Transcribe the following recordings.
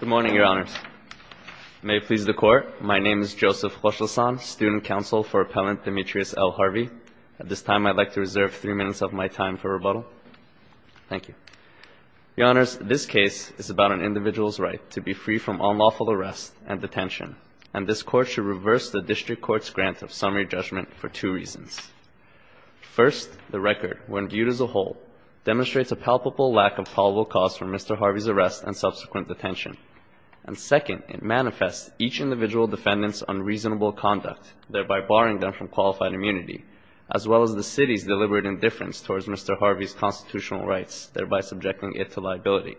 Good morning, Your Honors. May it please the Court, my name is Joseph Rochelson, Student Counsel for Appellant Demetrius L. Harvey. At this time, I'd like to reserve three minutes of my time for rebuttal. Thank you. Your Honors, this case is about an individual's right to be free from unlawful arrest and detention, and this Court should reverse the District Court's grant of summary judgment for two reasons. First, the record, when viewed as a whole, demonstrates a palpable lack of probable cause for Mr. Harvey's arrest and subsequent detention. And second, it manifests each individual defendant's unreasonable conduct, thereby barring them from qualified immunity, as well as the City's deliberate indifference towards Mr. Harvey's constitutional rights, thereby subjecting it to liability.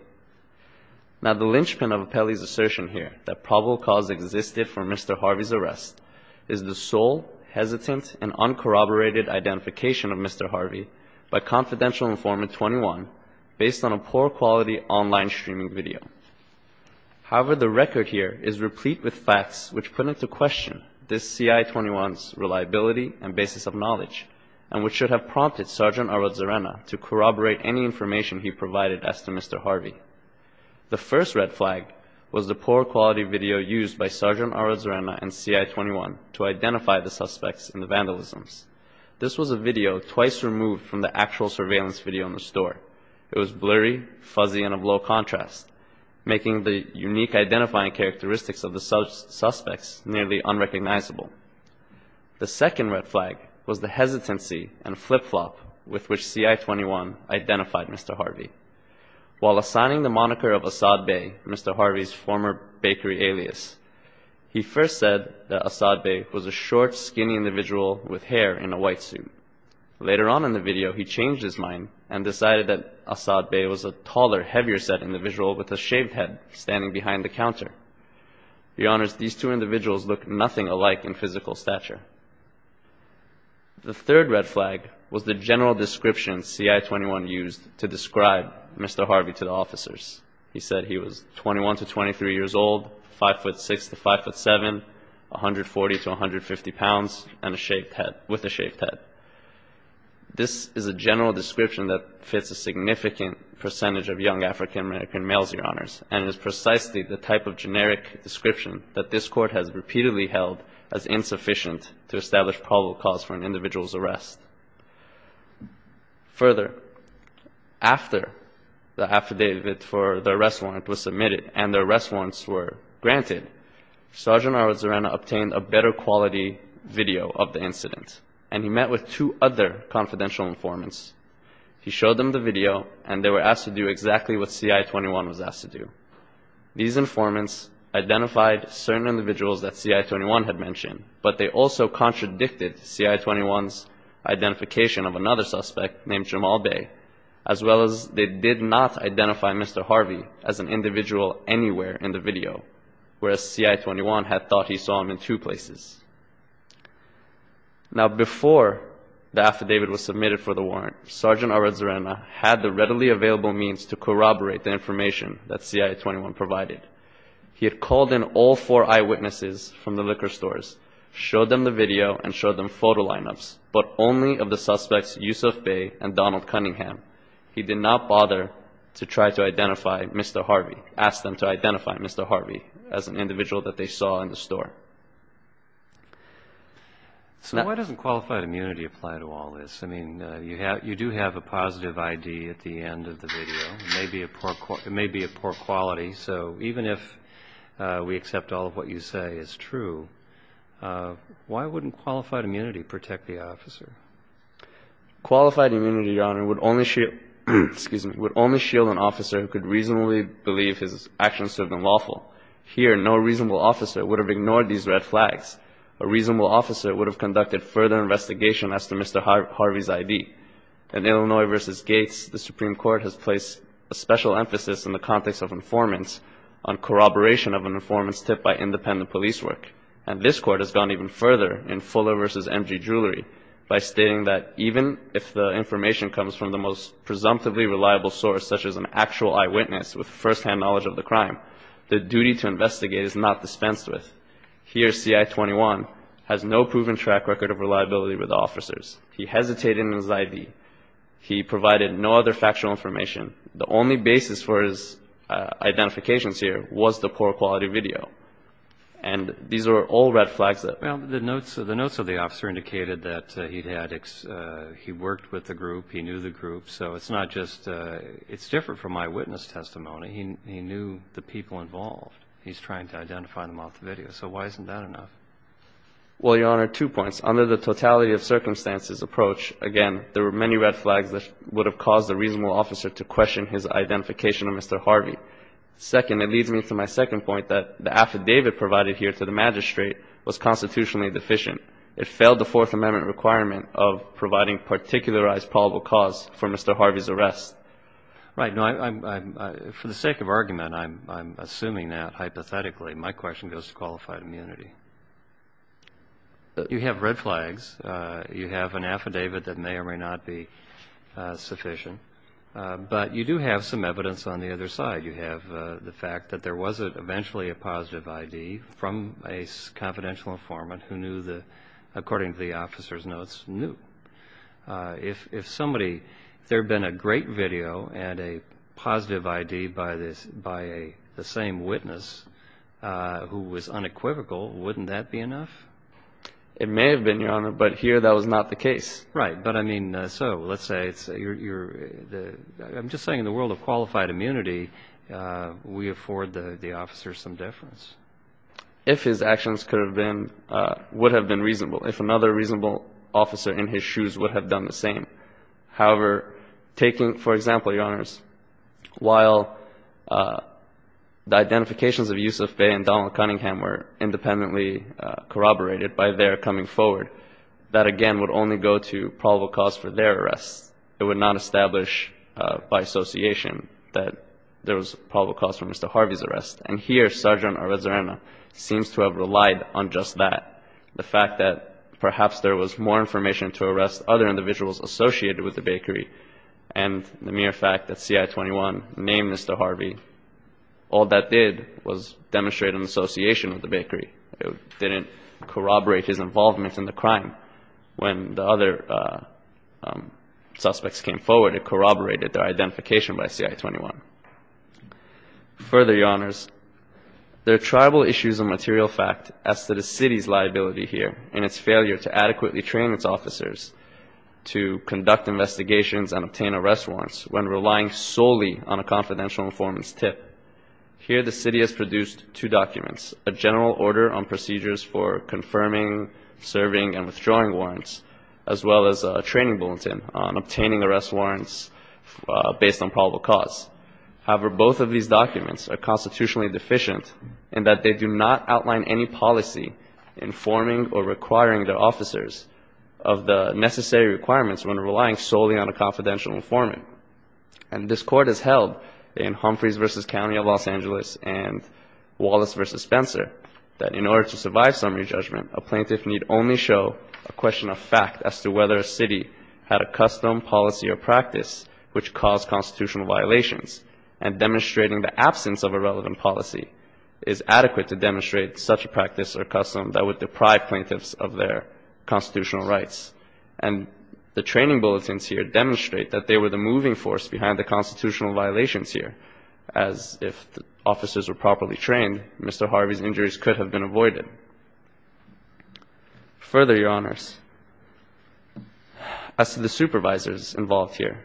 Now the linchpin of Appellee's assertion here, that probable cause existed for Mr. Harvey's arrest, is the sole, hesitant, and uncorroborated identification of Mr. Harvey by Confidential Informant 21, based on a poor-quality online streaming video. However, the record here is replete with facts which put into question this C.I. 21's reliability and basis of knowledge, and which should have prompted Sgt. Arrozarena to corroborate any information he provided as to Mr. Harvey. The first red flag was the poor-quality video used by Sgt. Arrozarena and C.I. 21 to identify the suspects in the vandalisms. This was a video twice removed from the actual surveillance video in the store. It was blurry, fuzzy, and of low contrast, making the unique identifying characteristics of the suspects nearly unrecognizable. The second red flag was the hesitancy and flip-flop with which C.I. 21 identified Mr. Harvey. While assigning the moniker of Assad Bey, Mr. Harvey's former bakery alias, he first said that Assad Bey was a short, skinny individual with hair in a white suit. Later on in the video, he changed his mind and decided that Assad Bey was a taller, heavier-set individual with a shaved head standing behind the counter. He honors these two individuals look nothing alike in physical stature. The third red flag was the general description C.I. 21 used to describe Mr. Harvey to the officers. He said he was 21 to 23 years old, 5'6 to 5'7, 140 to 150 pounds, and with a shaved head. This is a general description that fits a significant percentage of young African American males, Your Honors, and is precisely the type of generic description that this court has repeatedly held as insufficient to establish probable cause for an individual's arrest. Further, after the affidavit for the arrest warrant was submitted and the arrest warrants were granted, Sgt. Arwad Zarana obtained a better quality video of the incident, and he met with two other confidential informants. He showed them the video, and they were asked to do exactly what C.I. 21 was asked to do. These informants identified certain individuals that C.I. 21 had mentioned, but they also contradicted C.I. 21's identification of another suspect named Jamal Bey, as well as they did not identify Mr. Harvey as an individual anywhere in the video, whereas C.I. 21 had thought he saw him in two places. Now, before the affidavit was submitted for the warrant, Sgt. Arwad Zarana had the readily available means to corroborate the information that C.I. 21 provided. He had called in all four eyewitnesses from the liquor stores, showed them the video, and showed them photo lineups, but only of the suspects Yusuf Bey and Donald Cunningham. He did not bother to try to identify Mr. Harvey, ask them to identify Mr. Harvey as an individual that they saw in the store. So why doesn't qualified immunity apply to all this? I mean, you do have a positive ID at the end of the video. It may be of poor quality. So even if we accept all of what you say is true, why wouldn't qualified immunity protect the officer? Qualified immunity, Your Honor, would only shield an officer who could reasonably believe his actions served him lawful. Here, no reasonable officer would have ignored these red flags. A reasonable officer would have conducted further investigation as to Mr. Harvey's ID. In Illinois v. Gates, the Supreme Court has placed a special emphasis in the context of informants on corroboration of an informant's tip by independent police work. And this Court has gone even further in Fuller v. M.G. Jewelry by stating that even if the information comes from the most presumptively reliable source, such as an actual eyewitness with firsthand knowledge of the crime, the duty to investigate is not dispensed with. Here, C.I. 21 has no proven track record of reliability with officers. He hesitated in his ID. He provided no other factual information. The only basis for his identifications here was the poor quality video. And these are all red flags that, well, the notes of the officer indicated that he had, he worked with the group, he knew the group. So it's not just, it's different from eyewitness testimony. He knew the people involved. He's trying to identify them off the video. So why isn't that enough? Well, Your Honor, two points. Under the totality of circumstances approach, again, there were many red flags that would have caused a reasonable officer to question his identification of Mr. Harvey. Second, it leads me to my second point, that the affidavit provided here to the magistrate was constitutionally deficient. It failed the Fourth Amendment requirement of providing particularized probable cause for Mr. Harvey's arrest. Right. No, I'm, for the sake of argument, I'm assuming that, hypothetically, my question goes to qualified immunity. You have red flags. You have an affidavit that may or may not be sufficient. But you do have some evidence on the other side. You have the fact that there was eventually a positive ID from a confidential informant who knew the, according to the officer's notes, knew. If somebody, if there had been a great video and a positive ID by the same witness who was unequivocal, wouldn't that be enough? It may have been, Your Honor, but here that was not the case. Right. But, I mean, so let's say it's your, the, I'm just saying in the world of qualified immunity, we afford the officer some difference. If his actions could have been, would have been reasonable, if another reasonable officer in his shoes would have done the same. However, taking, for example, Your Honors, while the identifications of Yusuf Bey and Donald Cunningham were independently corroborated by their coming forward, that again would only go to probable cause for their arrests. It would not establish by association that there was probable cause for Mr. Harvey's arrest. And here, Sergeant Arvizuena seems to have relied on just that. The fact that perhaps there was more information to arrest other individuals associated with the bakery and the mere fact that CI-21 named Mr. Harvey, all that did was demonstrate an association with the bakery. It didn't corroborate his involvement in the crime. When the other suspects came forward, it corroborated their identification by CI-21. Further, Your Honors, there are tribal issues of material fact as to the city's liability here and its failure to adequately train its officers to conduct investigations and obtain arrest warrants when relying solely on a confidential informant's tip. Here the city has produced two documents, a general order on procedures for confirming, serving, and withdrawing warrants, as well as a training bulletin on obtaining arrest warrants based on probable cause. However, both of these documents are constitutionally deficient in that they do not outline any policy informing or requiring their officers of the necessary requirements when relying solely on a confidential informant. And this Court has held in Humphreys v. County of Los Angeles, Wallace v. Spencer, that in order to survive summary judgment, a plaintiff need only show a question of fact as to whether a city had a custom, policy, or practice which caused constitutional violations. And demonstrating the absence of a relevant policy is adequate to demonstrate such a practice or custom that would deprive plaintiffs of their constitutional rights. And the training bulletins here demonstrate that they were the moving force behind the Mr. Harvey's injuries could have been avoided. Further, Your Honors, as to the supervisors involved here,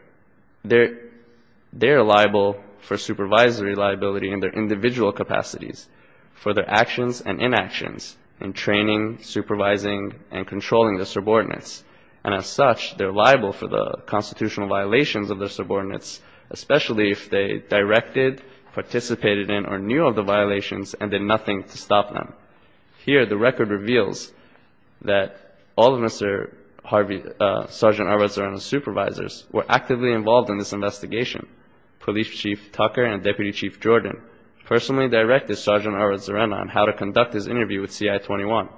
they're liable for supervisory liability in their individual capacities for their actions and inactions in training, supervising, and controlling the subordinates. And as such, they're liable for the constitutional violations of the subordinates, especially if they directed, participated in, or knew of the violations and did nothing to stop them. Here, the record reveals that all of Mr. Harvey's, Sergeant Edward Zorana's supervisors were actively involved in this investigation. Police Chief Tucker and Deputy Chief Jordan personally directed Sergeant Edward Zorana on how to conduct his interview with CI-21.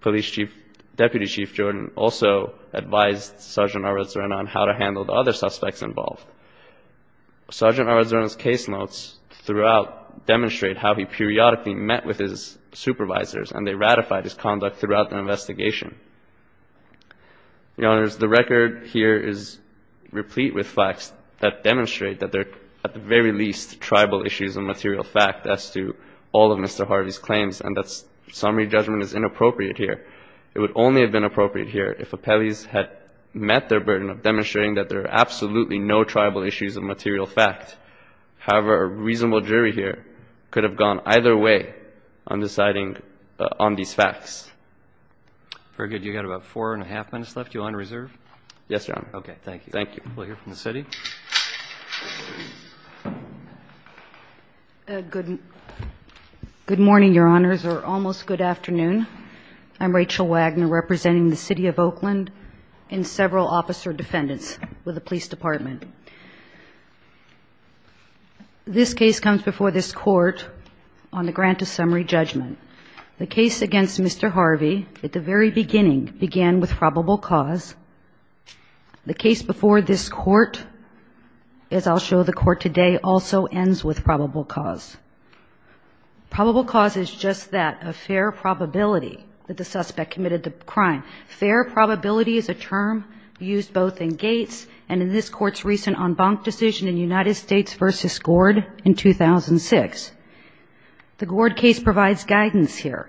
Police Chief, Deputy Chief Jordan also advised Sergeant Edward Zorana on how to handle the other suspects involved. Sergeant Edward Zorana's case notes throughout demonstrate how he periodically met with his supervisors, and they ratified his conduct throughout the investigation. Your Honors, the record here is replete with facts that demonstrate that there are, at the very least, tribal issues of material fact as to all of Mr. Harvey's claims, and that summary judgment is inappropriate here. It would only have been appropriate here if Appellees had met their burden of demonstrating that there are absolutely no tribal issues of material fact. However, a reasonable jury here could have gone either way on deciding on these facts. Very good. You've got about four and a half minutes left. You're on reserve? Yes, Your Honor. Okay. Thank you. Thank you. We'll hear from the City. Good morning, Your Honors, or almost good afternoon. I'm Rachel Wagner, representing the City of Oakland and several officer defendants with the Police Department. This case comes before this Court on the grant of summary judgment. The case against Mr. Harvey at the very beginning began with probable cause. The case before this Court, as I'll show the Court today, also ends with probable cause. Probable cause is just that, a fair probability that the suspect committed the crime. Fair probability is a term used both in Gates and in this Court's recent en banc decision in United States v. Gord in 2006. The Gord case provides guidance here,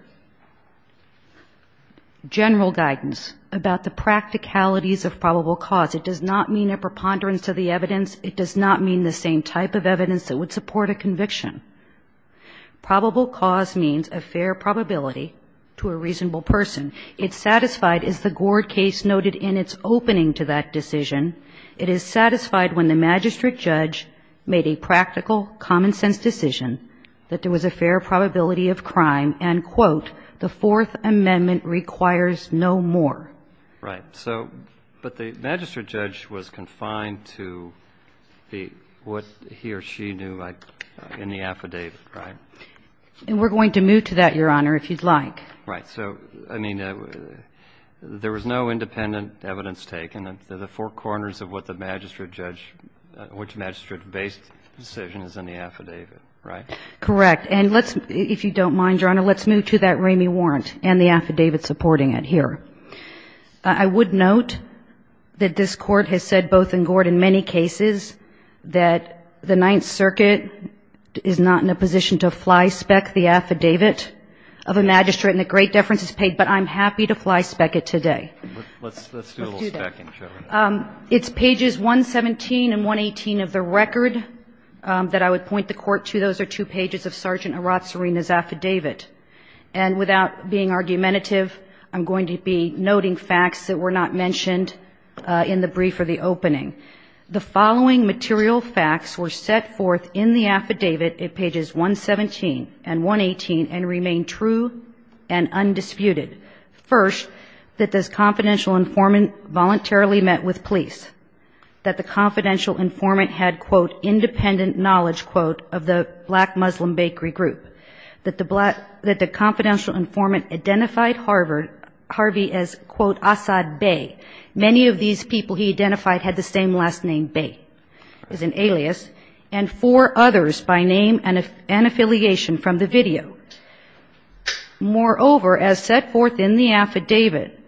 general guidance, about the practicalities of probable cause. It does not mean a preponderance of the evidence. It does not mean the same type of evidence that would support a conviction. Probable cause means a fair probability to a reasonable person. It's satisfied, as the Gord case noted in its opening to that decision, it is satisfied when the magistrate judge made a practical, common-sense decision that there was a fair probability of crime, and, quote, the Fourth Amendment requires no more. Right. So, but the magistrate judge was confined to what he or she knew in the affidavit, right? And we're going to move to that, Your Honor, if you'd like. Right. So, I mean, there was no independent evidence taken. They're the four corners of what the magistrate judge, which magistrate-based decision is in the affidavit, right? Correct. And let's, if you don't mind, Your Honor, let's move to that Ramey warrant and the affidavit supporting it here. I would note that this Court has said both in Gord and many cases that the Ninth Circuit is not in a position to fly-spec the affidavit of a magistrate and that great deference is paid, but I'm happy to fly-spec it today. Let's do a little spec-ing. Let's do that. It's pages 117 and 118 of the record that I would point the Court to. Those are two pages of Sergeant Arat Serena's affidavit. And without being argumentative, I'm going to be noting facts that were not mentioned in the brief or the opening. The following material facts were set forth in the affidavit at pages 117 and 118 and remain true and undisputed. First, that this confidential informant voluntarily met with police, that the confidential informant had, quote, independent knowledge, quote, of the black Muslim bakery group, that the confidential informant identified Harvey as, quote, Assad Bey. Many of these people he identified had the same last name, Bey, as an alias, and four others by name and affiliation from the video. Moreover, as set forth in the affidavit,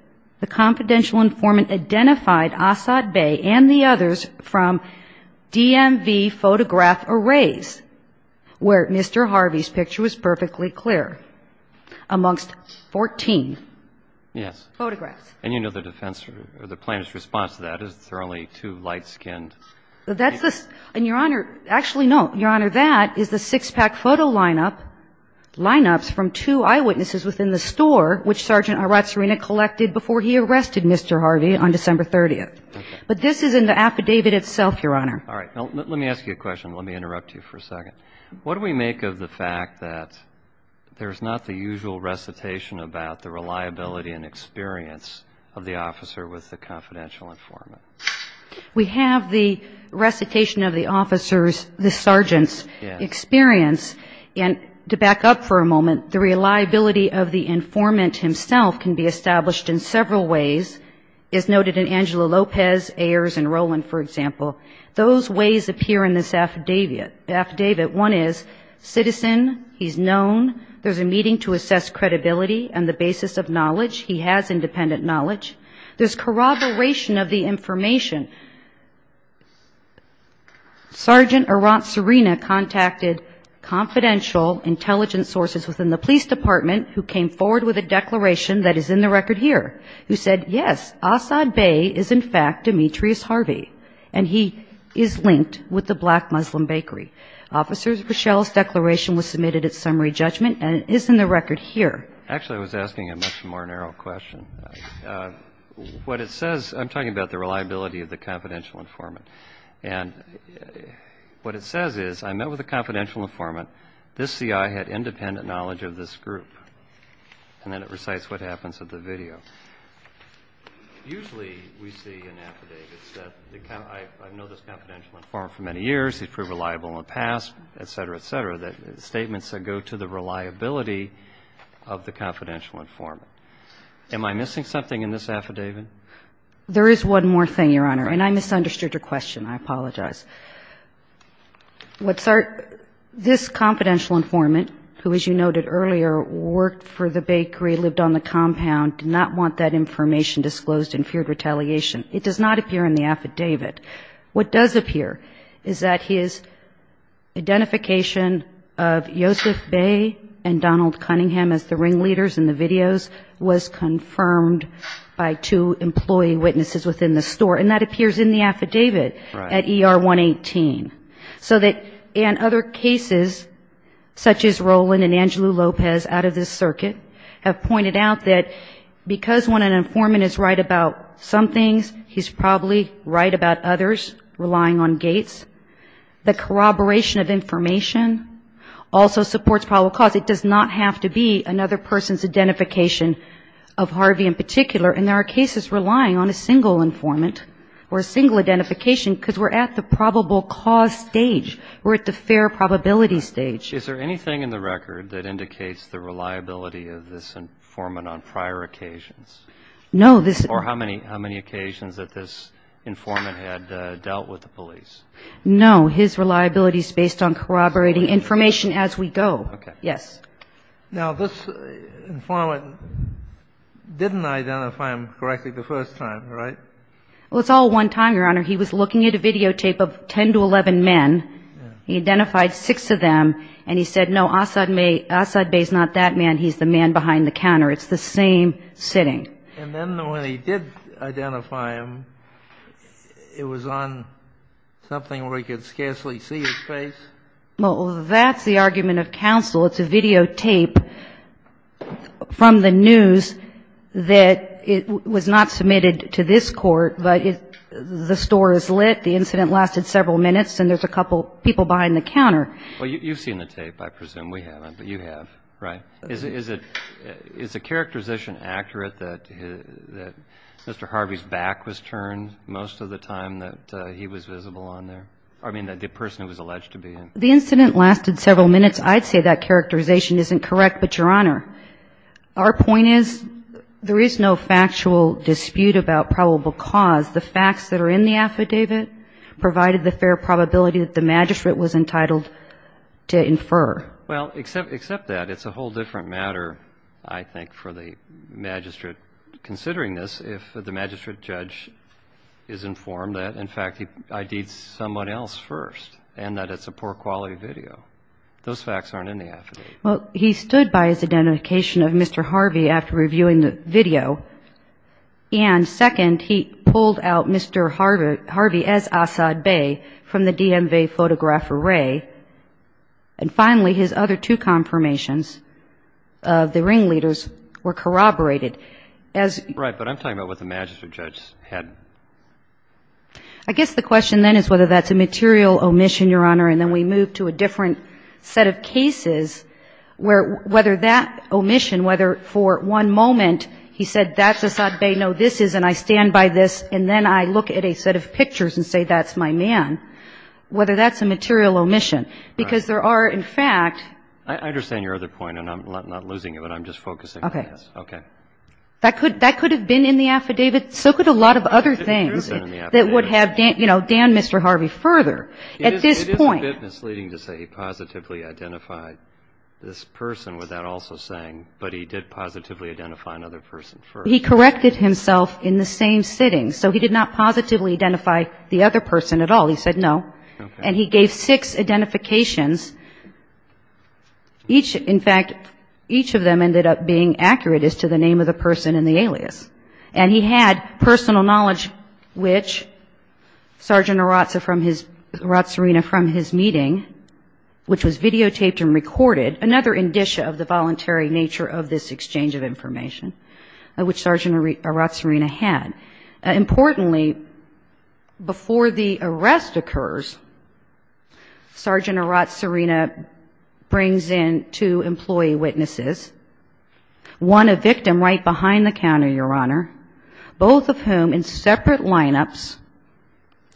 the confidential informant identified Assad Bey and the others from DMV photograph arrays, where Mr. Harvey's picture was perfectly clear, amongst 14 photographs. Yes. And you know the defense or the plaintiff's response to that is there are only two light-skinned people. That's the – and, Your Honor, actually, no. Your Honor, that is the six-pack photo lineup, lineups from two eyewitnesses within the store which Sergeant Arat Serena collected before he arrested Mr. Harvey on December 30th. Okay. But this is in the affidavit itself, Your Honor. All right. Now, let me ask you a question. Let me interrupt you for a second. What do we make of the fact that there's not the usual recitation about the reliability and experience of the officer with the confidential informant? We have the recitation of the officer's, the sergeant's experience. Yes. And to back up for a moment, the reliability of the informant himself can be established in several ways, as noted in Angela Lopez, Ayers, and Rowland, for example. Those ways appear in this affidavit. One is citizen, he's known. There's a meeting to assess credibility and the basis of knowledge. He has independent knowledge. There's corroboration of the information. Sergeant Arat Serena contacted confidential intelligence sources within the police department who came forward with a declaration that is in the record here, who said, yes, Asad Bey is, in fact, Demetrius Harvey, and he is linked with the Black Muslim Bakery. Officers, Rochelle's declaration was submitted at summary judgment and is in the record here. Actually, I was asking a much more narrow question. What it says, I'm talking about the reliability of the confidential informant. And what it says is, I met with a confidential informant. This C.I. had independent knowledge of this group. And then it recites what happens at the video. Usually we see in affidavits that I know this confidential informant for many years, he's proved reliable in the past, et cetera, et cetera, that statements that go to the reliability of the confidential informant. Am I missing something in this affidavit? There is one more thing, Your Honor, and I misunderstood your question. I apologize. This confidential informant, who, as you noted earlier, worked for the bakery, lived on the compound, did not want that information disclosed and feared retaliation. It does not appear in the affidavit. What does appear is that his identification of Yosef Bey and Donald Cunningham as the ringleaders in the videos was confirmed by two employee witnesses within the store. And that appears in the affidavit at ER 118. So that in other cases, such as Roland and Angelo Lopez out of this circuit, have pointed out that because when an informant is right about some things, he's probably right about others, relying on Gates. The corroboration of information also supports probable cause. It does not have to be another person's identification of Harvey in particular. And there are cases relying on a single informant or a single identification because we're at the probable cause stage. We're at the fair probability stage. Is there anything in the record that indicates the reliability of this informant on prior occasions? No. Or how many occasions that this informant had dealt with the police? No. His reliability is based on corroborating information as we go. Okay. Yes. Now, this informant didn't identify him correctly the first time, right? Well, it's all one time, Your Honor. He was looking at a videotape of 10 to 11 men. He identified six of them. And he said, no, Asad Bey is not that man. He's the man behind the counter. It's the same sitting. And then when he did identify him, it was on something where he could scarcely see his face? Well, that's the argument of counsel. It's a videotape from the news that was not submitted to this court, but the store is lit. The incident lasted several minutes, and there's a couple people behind the counter. Well, you've seen the tape, I presume. We haven't. But you have, right? Is a characterization accurate that Mr. Harvey's back was turned most of the time that he was visible on there? I mean, the person who was alleged to be him. The incident lasted several minutes. I'd say that characterization isn't correct, but, Your Honor, our point is there is no factual dispute about probable cause. The facts that are in the affidavit provided the fair probability that the magistrate was entitled to infer. Well, except that. It's a whole different matter, I think, for the magistrate considering this if the magistrate judge is informed that, in fact, he ID'd someone else first and that it's a poor-quality video. Those facts aren't in the affidavit. Well, he stood by his identification of Mr. Harvey after reviewing the video. And, second, he pulled out Mr. Harvey as Assad Bey from the DMV photograph array. And, finally, his other two confirmations of the ringleaders were corroborated. Right, but I'm talking about what the magistrate judge had. I guess the question then is whether that's a material omission, Your Honor, and then we move to a different set of cases where whether that omission, whether for one moment he said that's Assad Bey, no, this is, and I stand by this, and then I look at a set of pictures and say that's my man, whether that's a material omission. Because there are, in fact ---- I understand your other point, and I'm not losing it, but I'm just focusing on this. Okay. Okay. That could have been in the affidavit. So could a lot of other things that would have, you know, damned Mr. Harvey further. At this point ---- It is a bit misleading to say he positively identified this person without also saying, but he did positively identify another person first. He corrected himself in the same sitting. So he did not positively identify the other person at all. He said no. Okay. And he gave six identifications. Each, in fact, each of them ended up being accurate as to the name of the person in the alias. And he had personal knowledge, which Sergeant Aratsarina from his meeting, which was videotaped and recorded, another indicia of the voluntary nature of this exchange of information, which Sergeant Aratsarina had. Importantly, before the arrest occurs, Sergeant Aratsarina brings in two employee witnesses. One a victim right behind the counter, Your Honor, both of whom in separate lineups,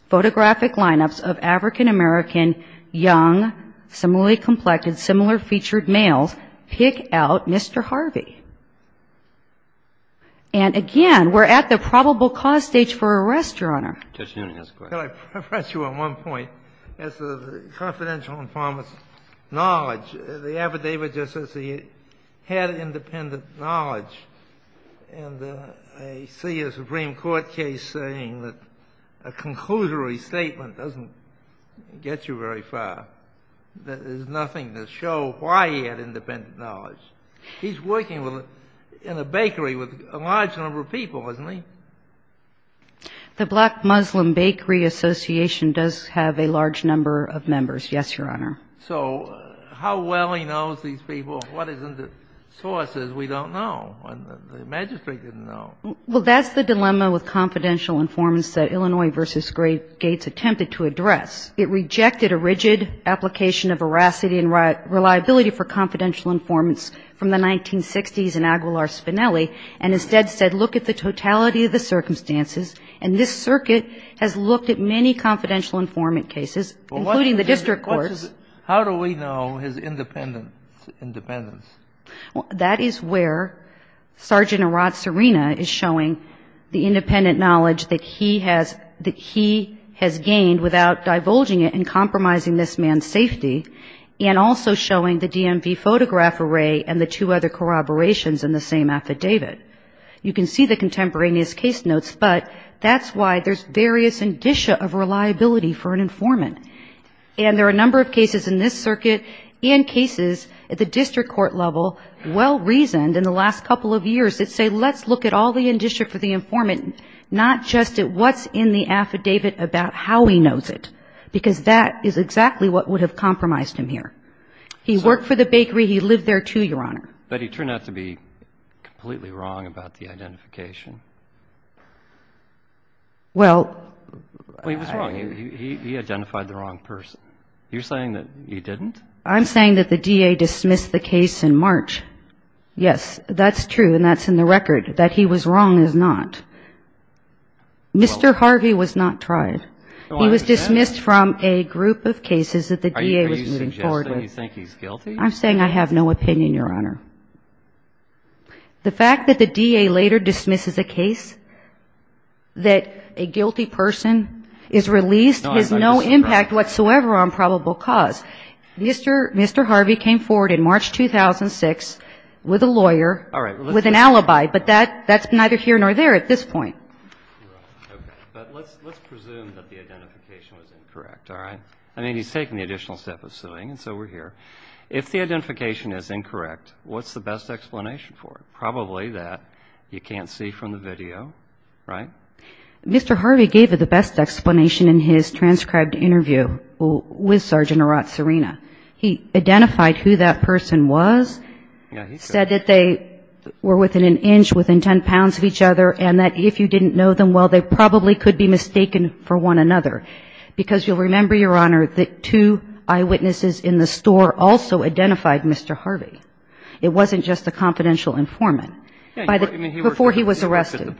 photographic lineups of African-American young, similarly-complected, similar-featured males, pick out Mr. Harvey. And again, we're at the probable cause stage for arrest, Your Honor. Can I press you on one point? As a confidential informant's knowledge, the affidavit just says he had independent knowledge. And I see a Supreme Court case saying that a conclusory statement doesn't get you very far. There's nothing to show why he had independent knowledge. He's working in a bakery with a large number of people, isn't he? The Black Muslim Bakery Association does have a large number of members, yes, Your Honor. So how well he knows these people, what is in the sources, we don't know. The magistrate didn't know. Well, that's the dilemma with confidential informants that Illinois v. Gates attempted to address. It rejected a rigid application of veracity and reliability for confidential informants from the 1960s in Aguilar-Spinelli, and instead said, look at the totality of the circumstances. And this circuit has looked at many confidential informant cases, including the district courts. How do we know his independence? That is where Sergeant Arat Serena is showing the independent knowledge that he has gained without divulging it and compromising this man's safety, and also showing the DMV photograph array and the two other corroborations in the same affidavit. You can see the contemporaneous case notes, but that's why there's various indicia of reliability for an informant. And there are a number of cases in this circuit and cases at the district court level well-reasoned in the last couple of years that say, let's look at all the indicia for the informant, not just at what's in the affidavit, about how he knows it, because that is exactly what would have compromised him here. He worked for the bakery. He lived there, too, Your Honor. But he turned out to be completely wrong about the identification. Well, he was wrong. He identified the wrong person. You're saying that he didn't? I'm saying that the DA dismissed the case in March. Yes, that's true, and that's in the record. That he was wrong is not. Mr. Harvey was not tried. He was dismissed from a group of cases that the DA was moving forward with. Are you suggesting you think he's guilty? I'm saying I have no opinion, Your Honor. The fact that the DA later dismisses a case that a guilty person is released has no impact whatsoever on probable cause. Mr. Harvey came forward in March 2006 with a lawyer with an alibi, but that's neither here nor there. We're at this point. Okay. But let's presume that the identification was incorrect, all right? I mean, he's taking the additional step of suing, and so we're here. If the identification is incorrect, what's the best explanation for it? Probably that you can't see from the video, right? Mr. Harvey gave the best explanation in his transcribed interview with Sergeant Arat Serena. He identified who that person was, said that they were within an inch, within 10 pounds of each other, and that if you didn't know them well, they probably could be mistaken for one another. Because you'll remember, Your Honor, that two eyewitnesses in the store also identified Mr. Harvey. It wasn't just a confidential informant. Before he was arrested.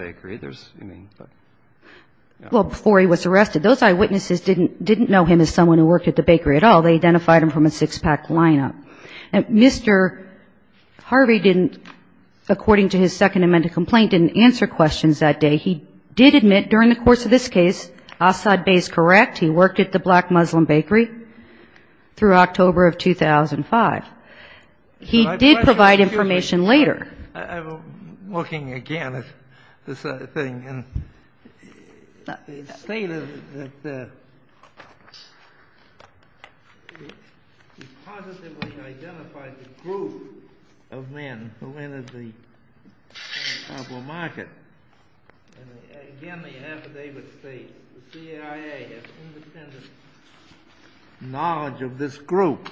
Well, before he was arrested, those eyewitnesses didn't know him as someone who worked at the bakery at all. They identified him from a six-pack lineup. Mr. Harvey didn't, according to his Second Amendment complaint, didn't answer questions that day. He did admit during the course of this case, Assad Bey is correct. He worked at the Black Muslim Bakery through October of 2005. He did provide information later. I'm looking again at this thing. It's stated that he positively identified the group of men who entered the labor market. Again, the affidavit states the CIA has independent knowledge of this group.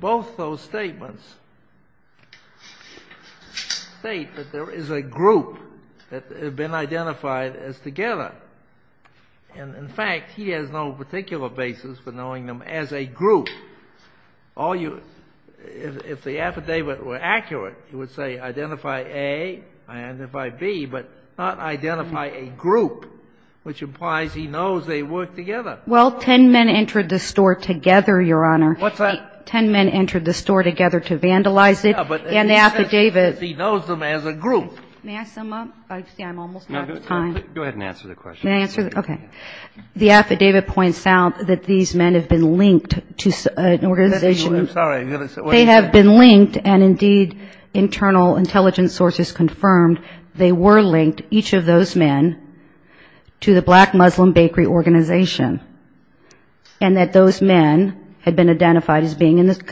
Both those statements state that there is a group that had been identified as together. And, in fact, he has no particular basis for knowing them as a group. If the affidavit were accurate, it would say identify A, identify B, but not identify a group, which implies he knows they worked together. Well, ten men entered the store together, Your Honor. What's that? Ten men entered the store together to vandalize it. Yeah, but he says he knows them as a group. May I sum up? I see I'm almost out of time. Go ahead and answer the question. May I answer? Okay. The affidavit points out that these men have been linked to an organization. I'm sorry. They have been linked, and, indeed, internal intelligence sources confirmed they were linked, each of those men, to the Black Muslim Bakery Organization, and that those men had been identified as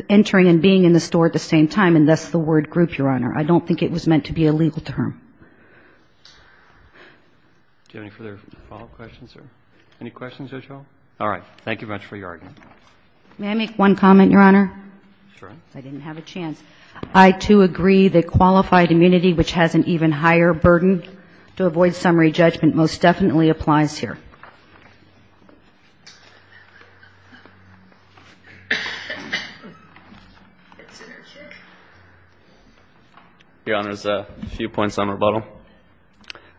entering and being in the store at the same time, and thus the word group, Your Honor. I don't think it was meant to be a legal term. Do you have any further follow-up questions, sir? Any questions at all? All right. Thank you very much for your argument. May I make one comment, Your Honor? Sure. I didn't have a chance. I, too, agree that qualified immunity, which has an even higher burden to avoid summary judgment, most definitely applies here. Your Honor, there's a few points on rebuttal.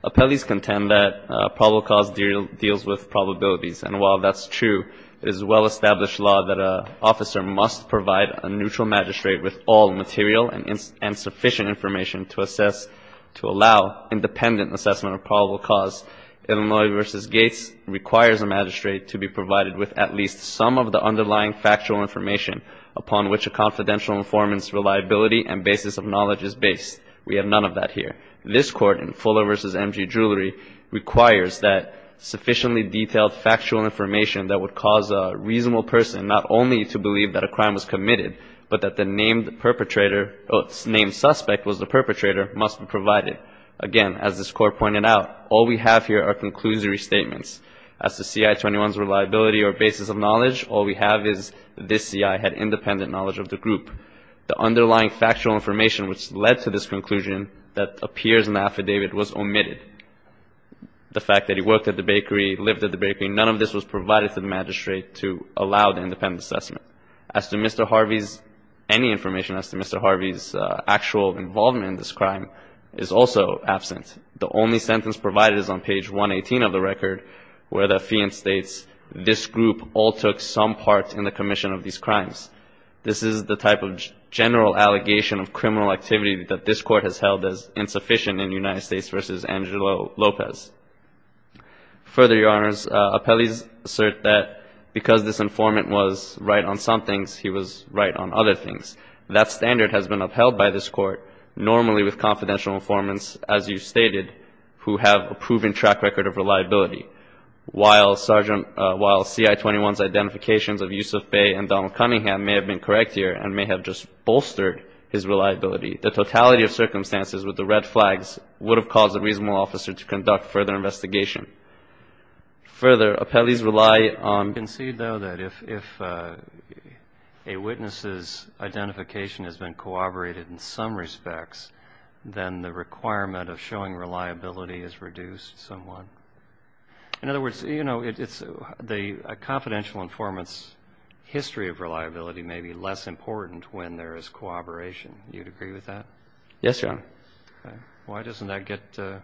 Appellees contend that probable cause deals with probabilities, and while that's true, it is a well-established law that an officer must provide a neutral magistrate with all material and sufficient information to allow independent assessment of probable cause. Illinois v. Gates requires a magistrate to be provided with at least some of the underlying factual information upon which a confidential informant's reliability and basis of knowledge is based. We have none of that here. This Court, in Fuller v. M.G. Jewelry, requires that sufficiently detailed factual information that would cause a reasonable person not only to believe that a crime was committed, but that the named suspect was the perpetrator must be provided. Again, as this Court pointed out, all we have here are conclusory statements. As to C.I. 21's reliability or basis of knowledge, all we have is this C.I. had independent knowledge of the group. The underlying factual information which led to this conclusion that appears in the affidavit was omitted. The fact that he worked at the bakery, lived at the bakery, none of this was provided to the magistrate to allow the independent assessment. As to Mr. Harvey's, any information as to Mr. Harvey's actual involvement in this crime is also absent. The only sentence provided is on page 118 of the record, where the fiance states, this group all took some part in the commission of these crimes. This is the type of general allegation of criminal activity that this Court has held as insufficient in United States v. Angelo Lopez. Further, Your Honors, appellees assert that because this informant was right on some things, he was right on other things. That standard has been upheld by this Court, normally with confidential informants, as you stated, who have a proven track record of reliability. While C.I. 21's identifications of Yusuf Bey and Donald Cunningham may have been correct here and may have just bolstered his reliability, the totality of circumstances with the red flags would have caused a reasonable officer to conduct further investigation. Further, appellees rely on You can see, though, that if a witness's identification has been corroborated in some respects, then the requirement of showing reliability is reduced somewhat. In other words, you know, it's the confidential informant's history of reliability may be less important when there is cooperation. Do you agree with that? Yes, Your Honor. Okay. Why doesn't that get the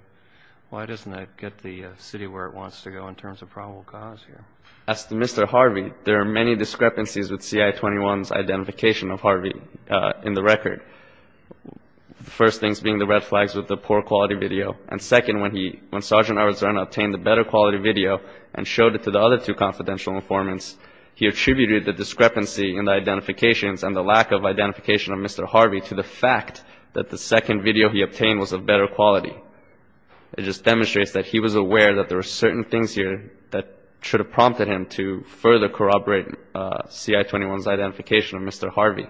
city where it wants to go in terms of probable cause here? As to Mr. Harvey, there are many discrepancies with C.I. 21's identification of Harvey in the record. The first things being the red flags with the poor quality video. And second, when he, when Sgt. Arzern obtained the better quality video and showed it to the other two confidential informants, he attributed the discrepancy in the identifications and the lack of identification of Mr. Harvey to the fact that the second video he obtained was of better quality. It just demonstrates that he was aware that there were certain things here that should have prompted him to further corroborate C.I. 21's identification of Mr. Harvey.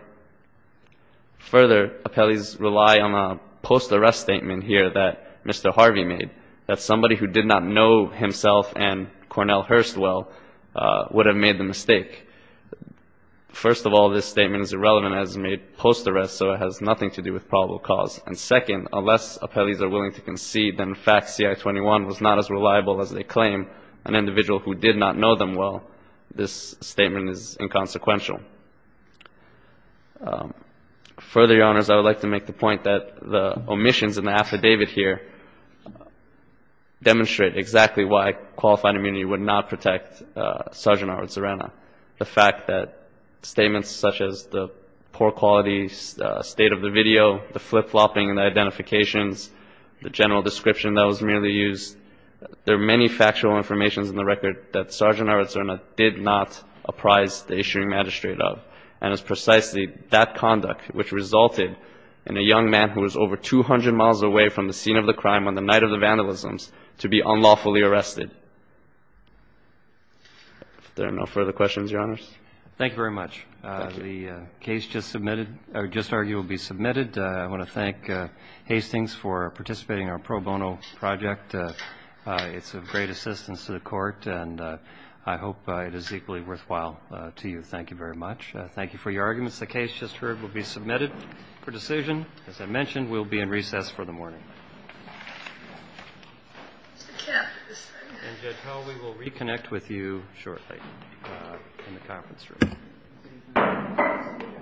Further, appellees rely on a post-arrest statement here that Mr. Harvey made, that somebody who did not know himself and Cornell Hurst well would have made the mistake. First of all, this statement is irrelevant as it's made post-arrest, so it has nothing to do with probable cause. And second, unless appellees are willing to concede that in fact C.I. 21 was not as reliable as they claim, an individual who did not know them well, this statement is inconsequential. Further, Your Honors, I would like to make the point that the omissions in the affidavit here demonstrate exactly why qualified immunity would not protect Sgt. Howard Cerena. The fact that statements such as the poor quality state of the video, the flip-flopping in the identifications, the general description that was merely used, there are many factual informations in the record that Sgt. Howard Cerena did not apprise the issuing magistrate of. And it's precisely that conduct which resulted in a young man who was over 200 miles away from the scene of the crime on the night of the vandalisms to be unlawfully arrested. If there are no further questions, Your Honors. Thank you very much. Thank you. The case just submitted or just argued will be submitted. I want to thank Hastings for participating in our pro bono project. It's of great assistance to the Court, and I hope it is equally worthwhile to you. Thank you very much. Thank you for your arguments. The case just heard will be submitted for decision. As I mentioned, we'll be in recess for the morning. And, Judge Howell, we will reconnect with you shortly in the conference room.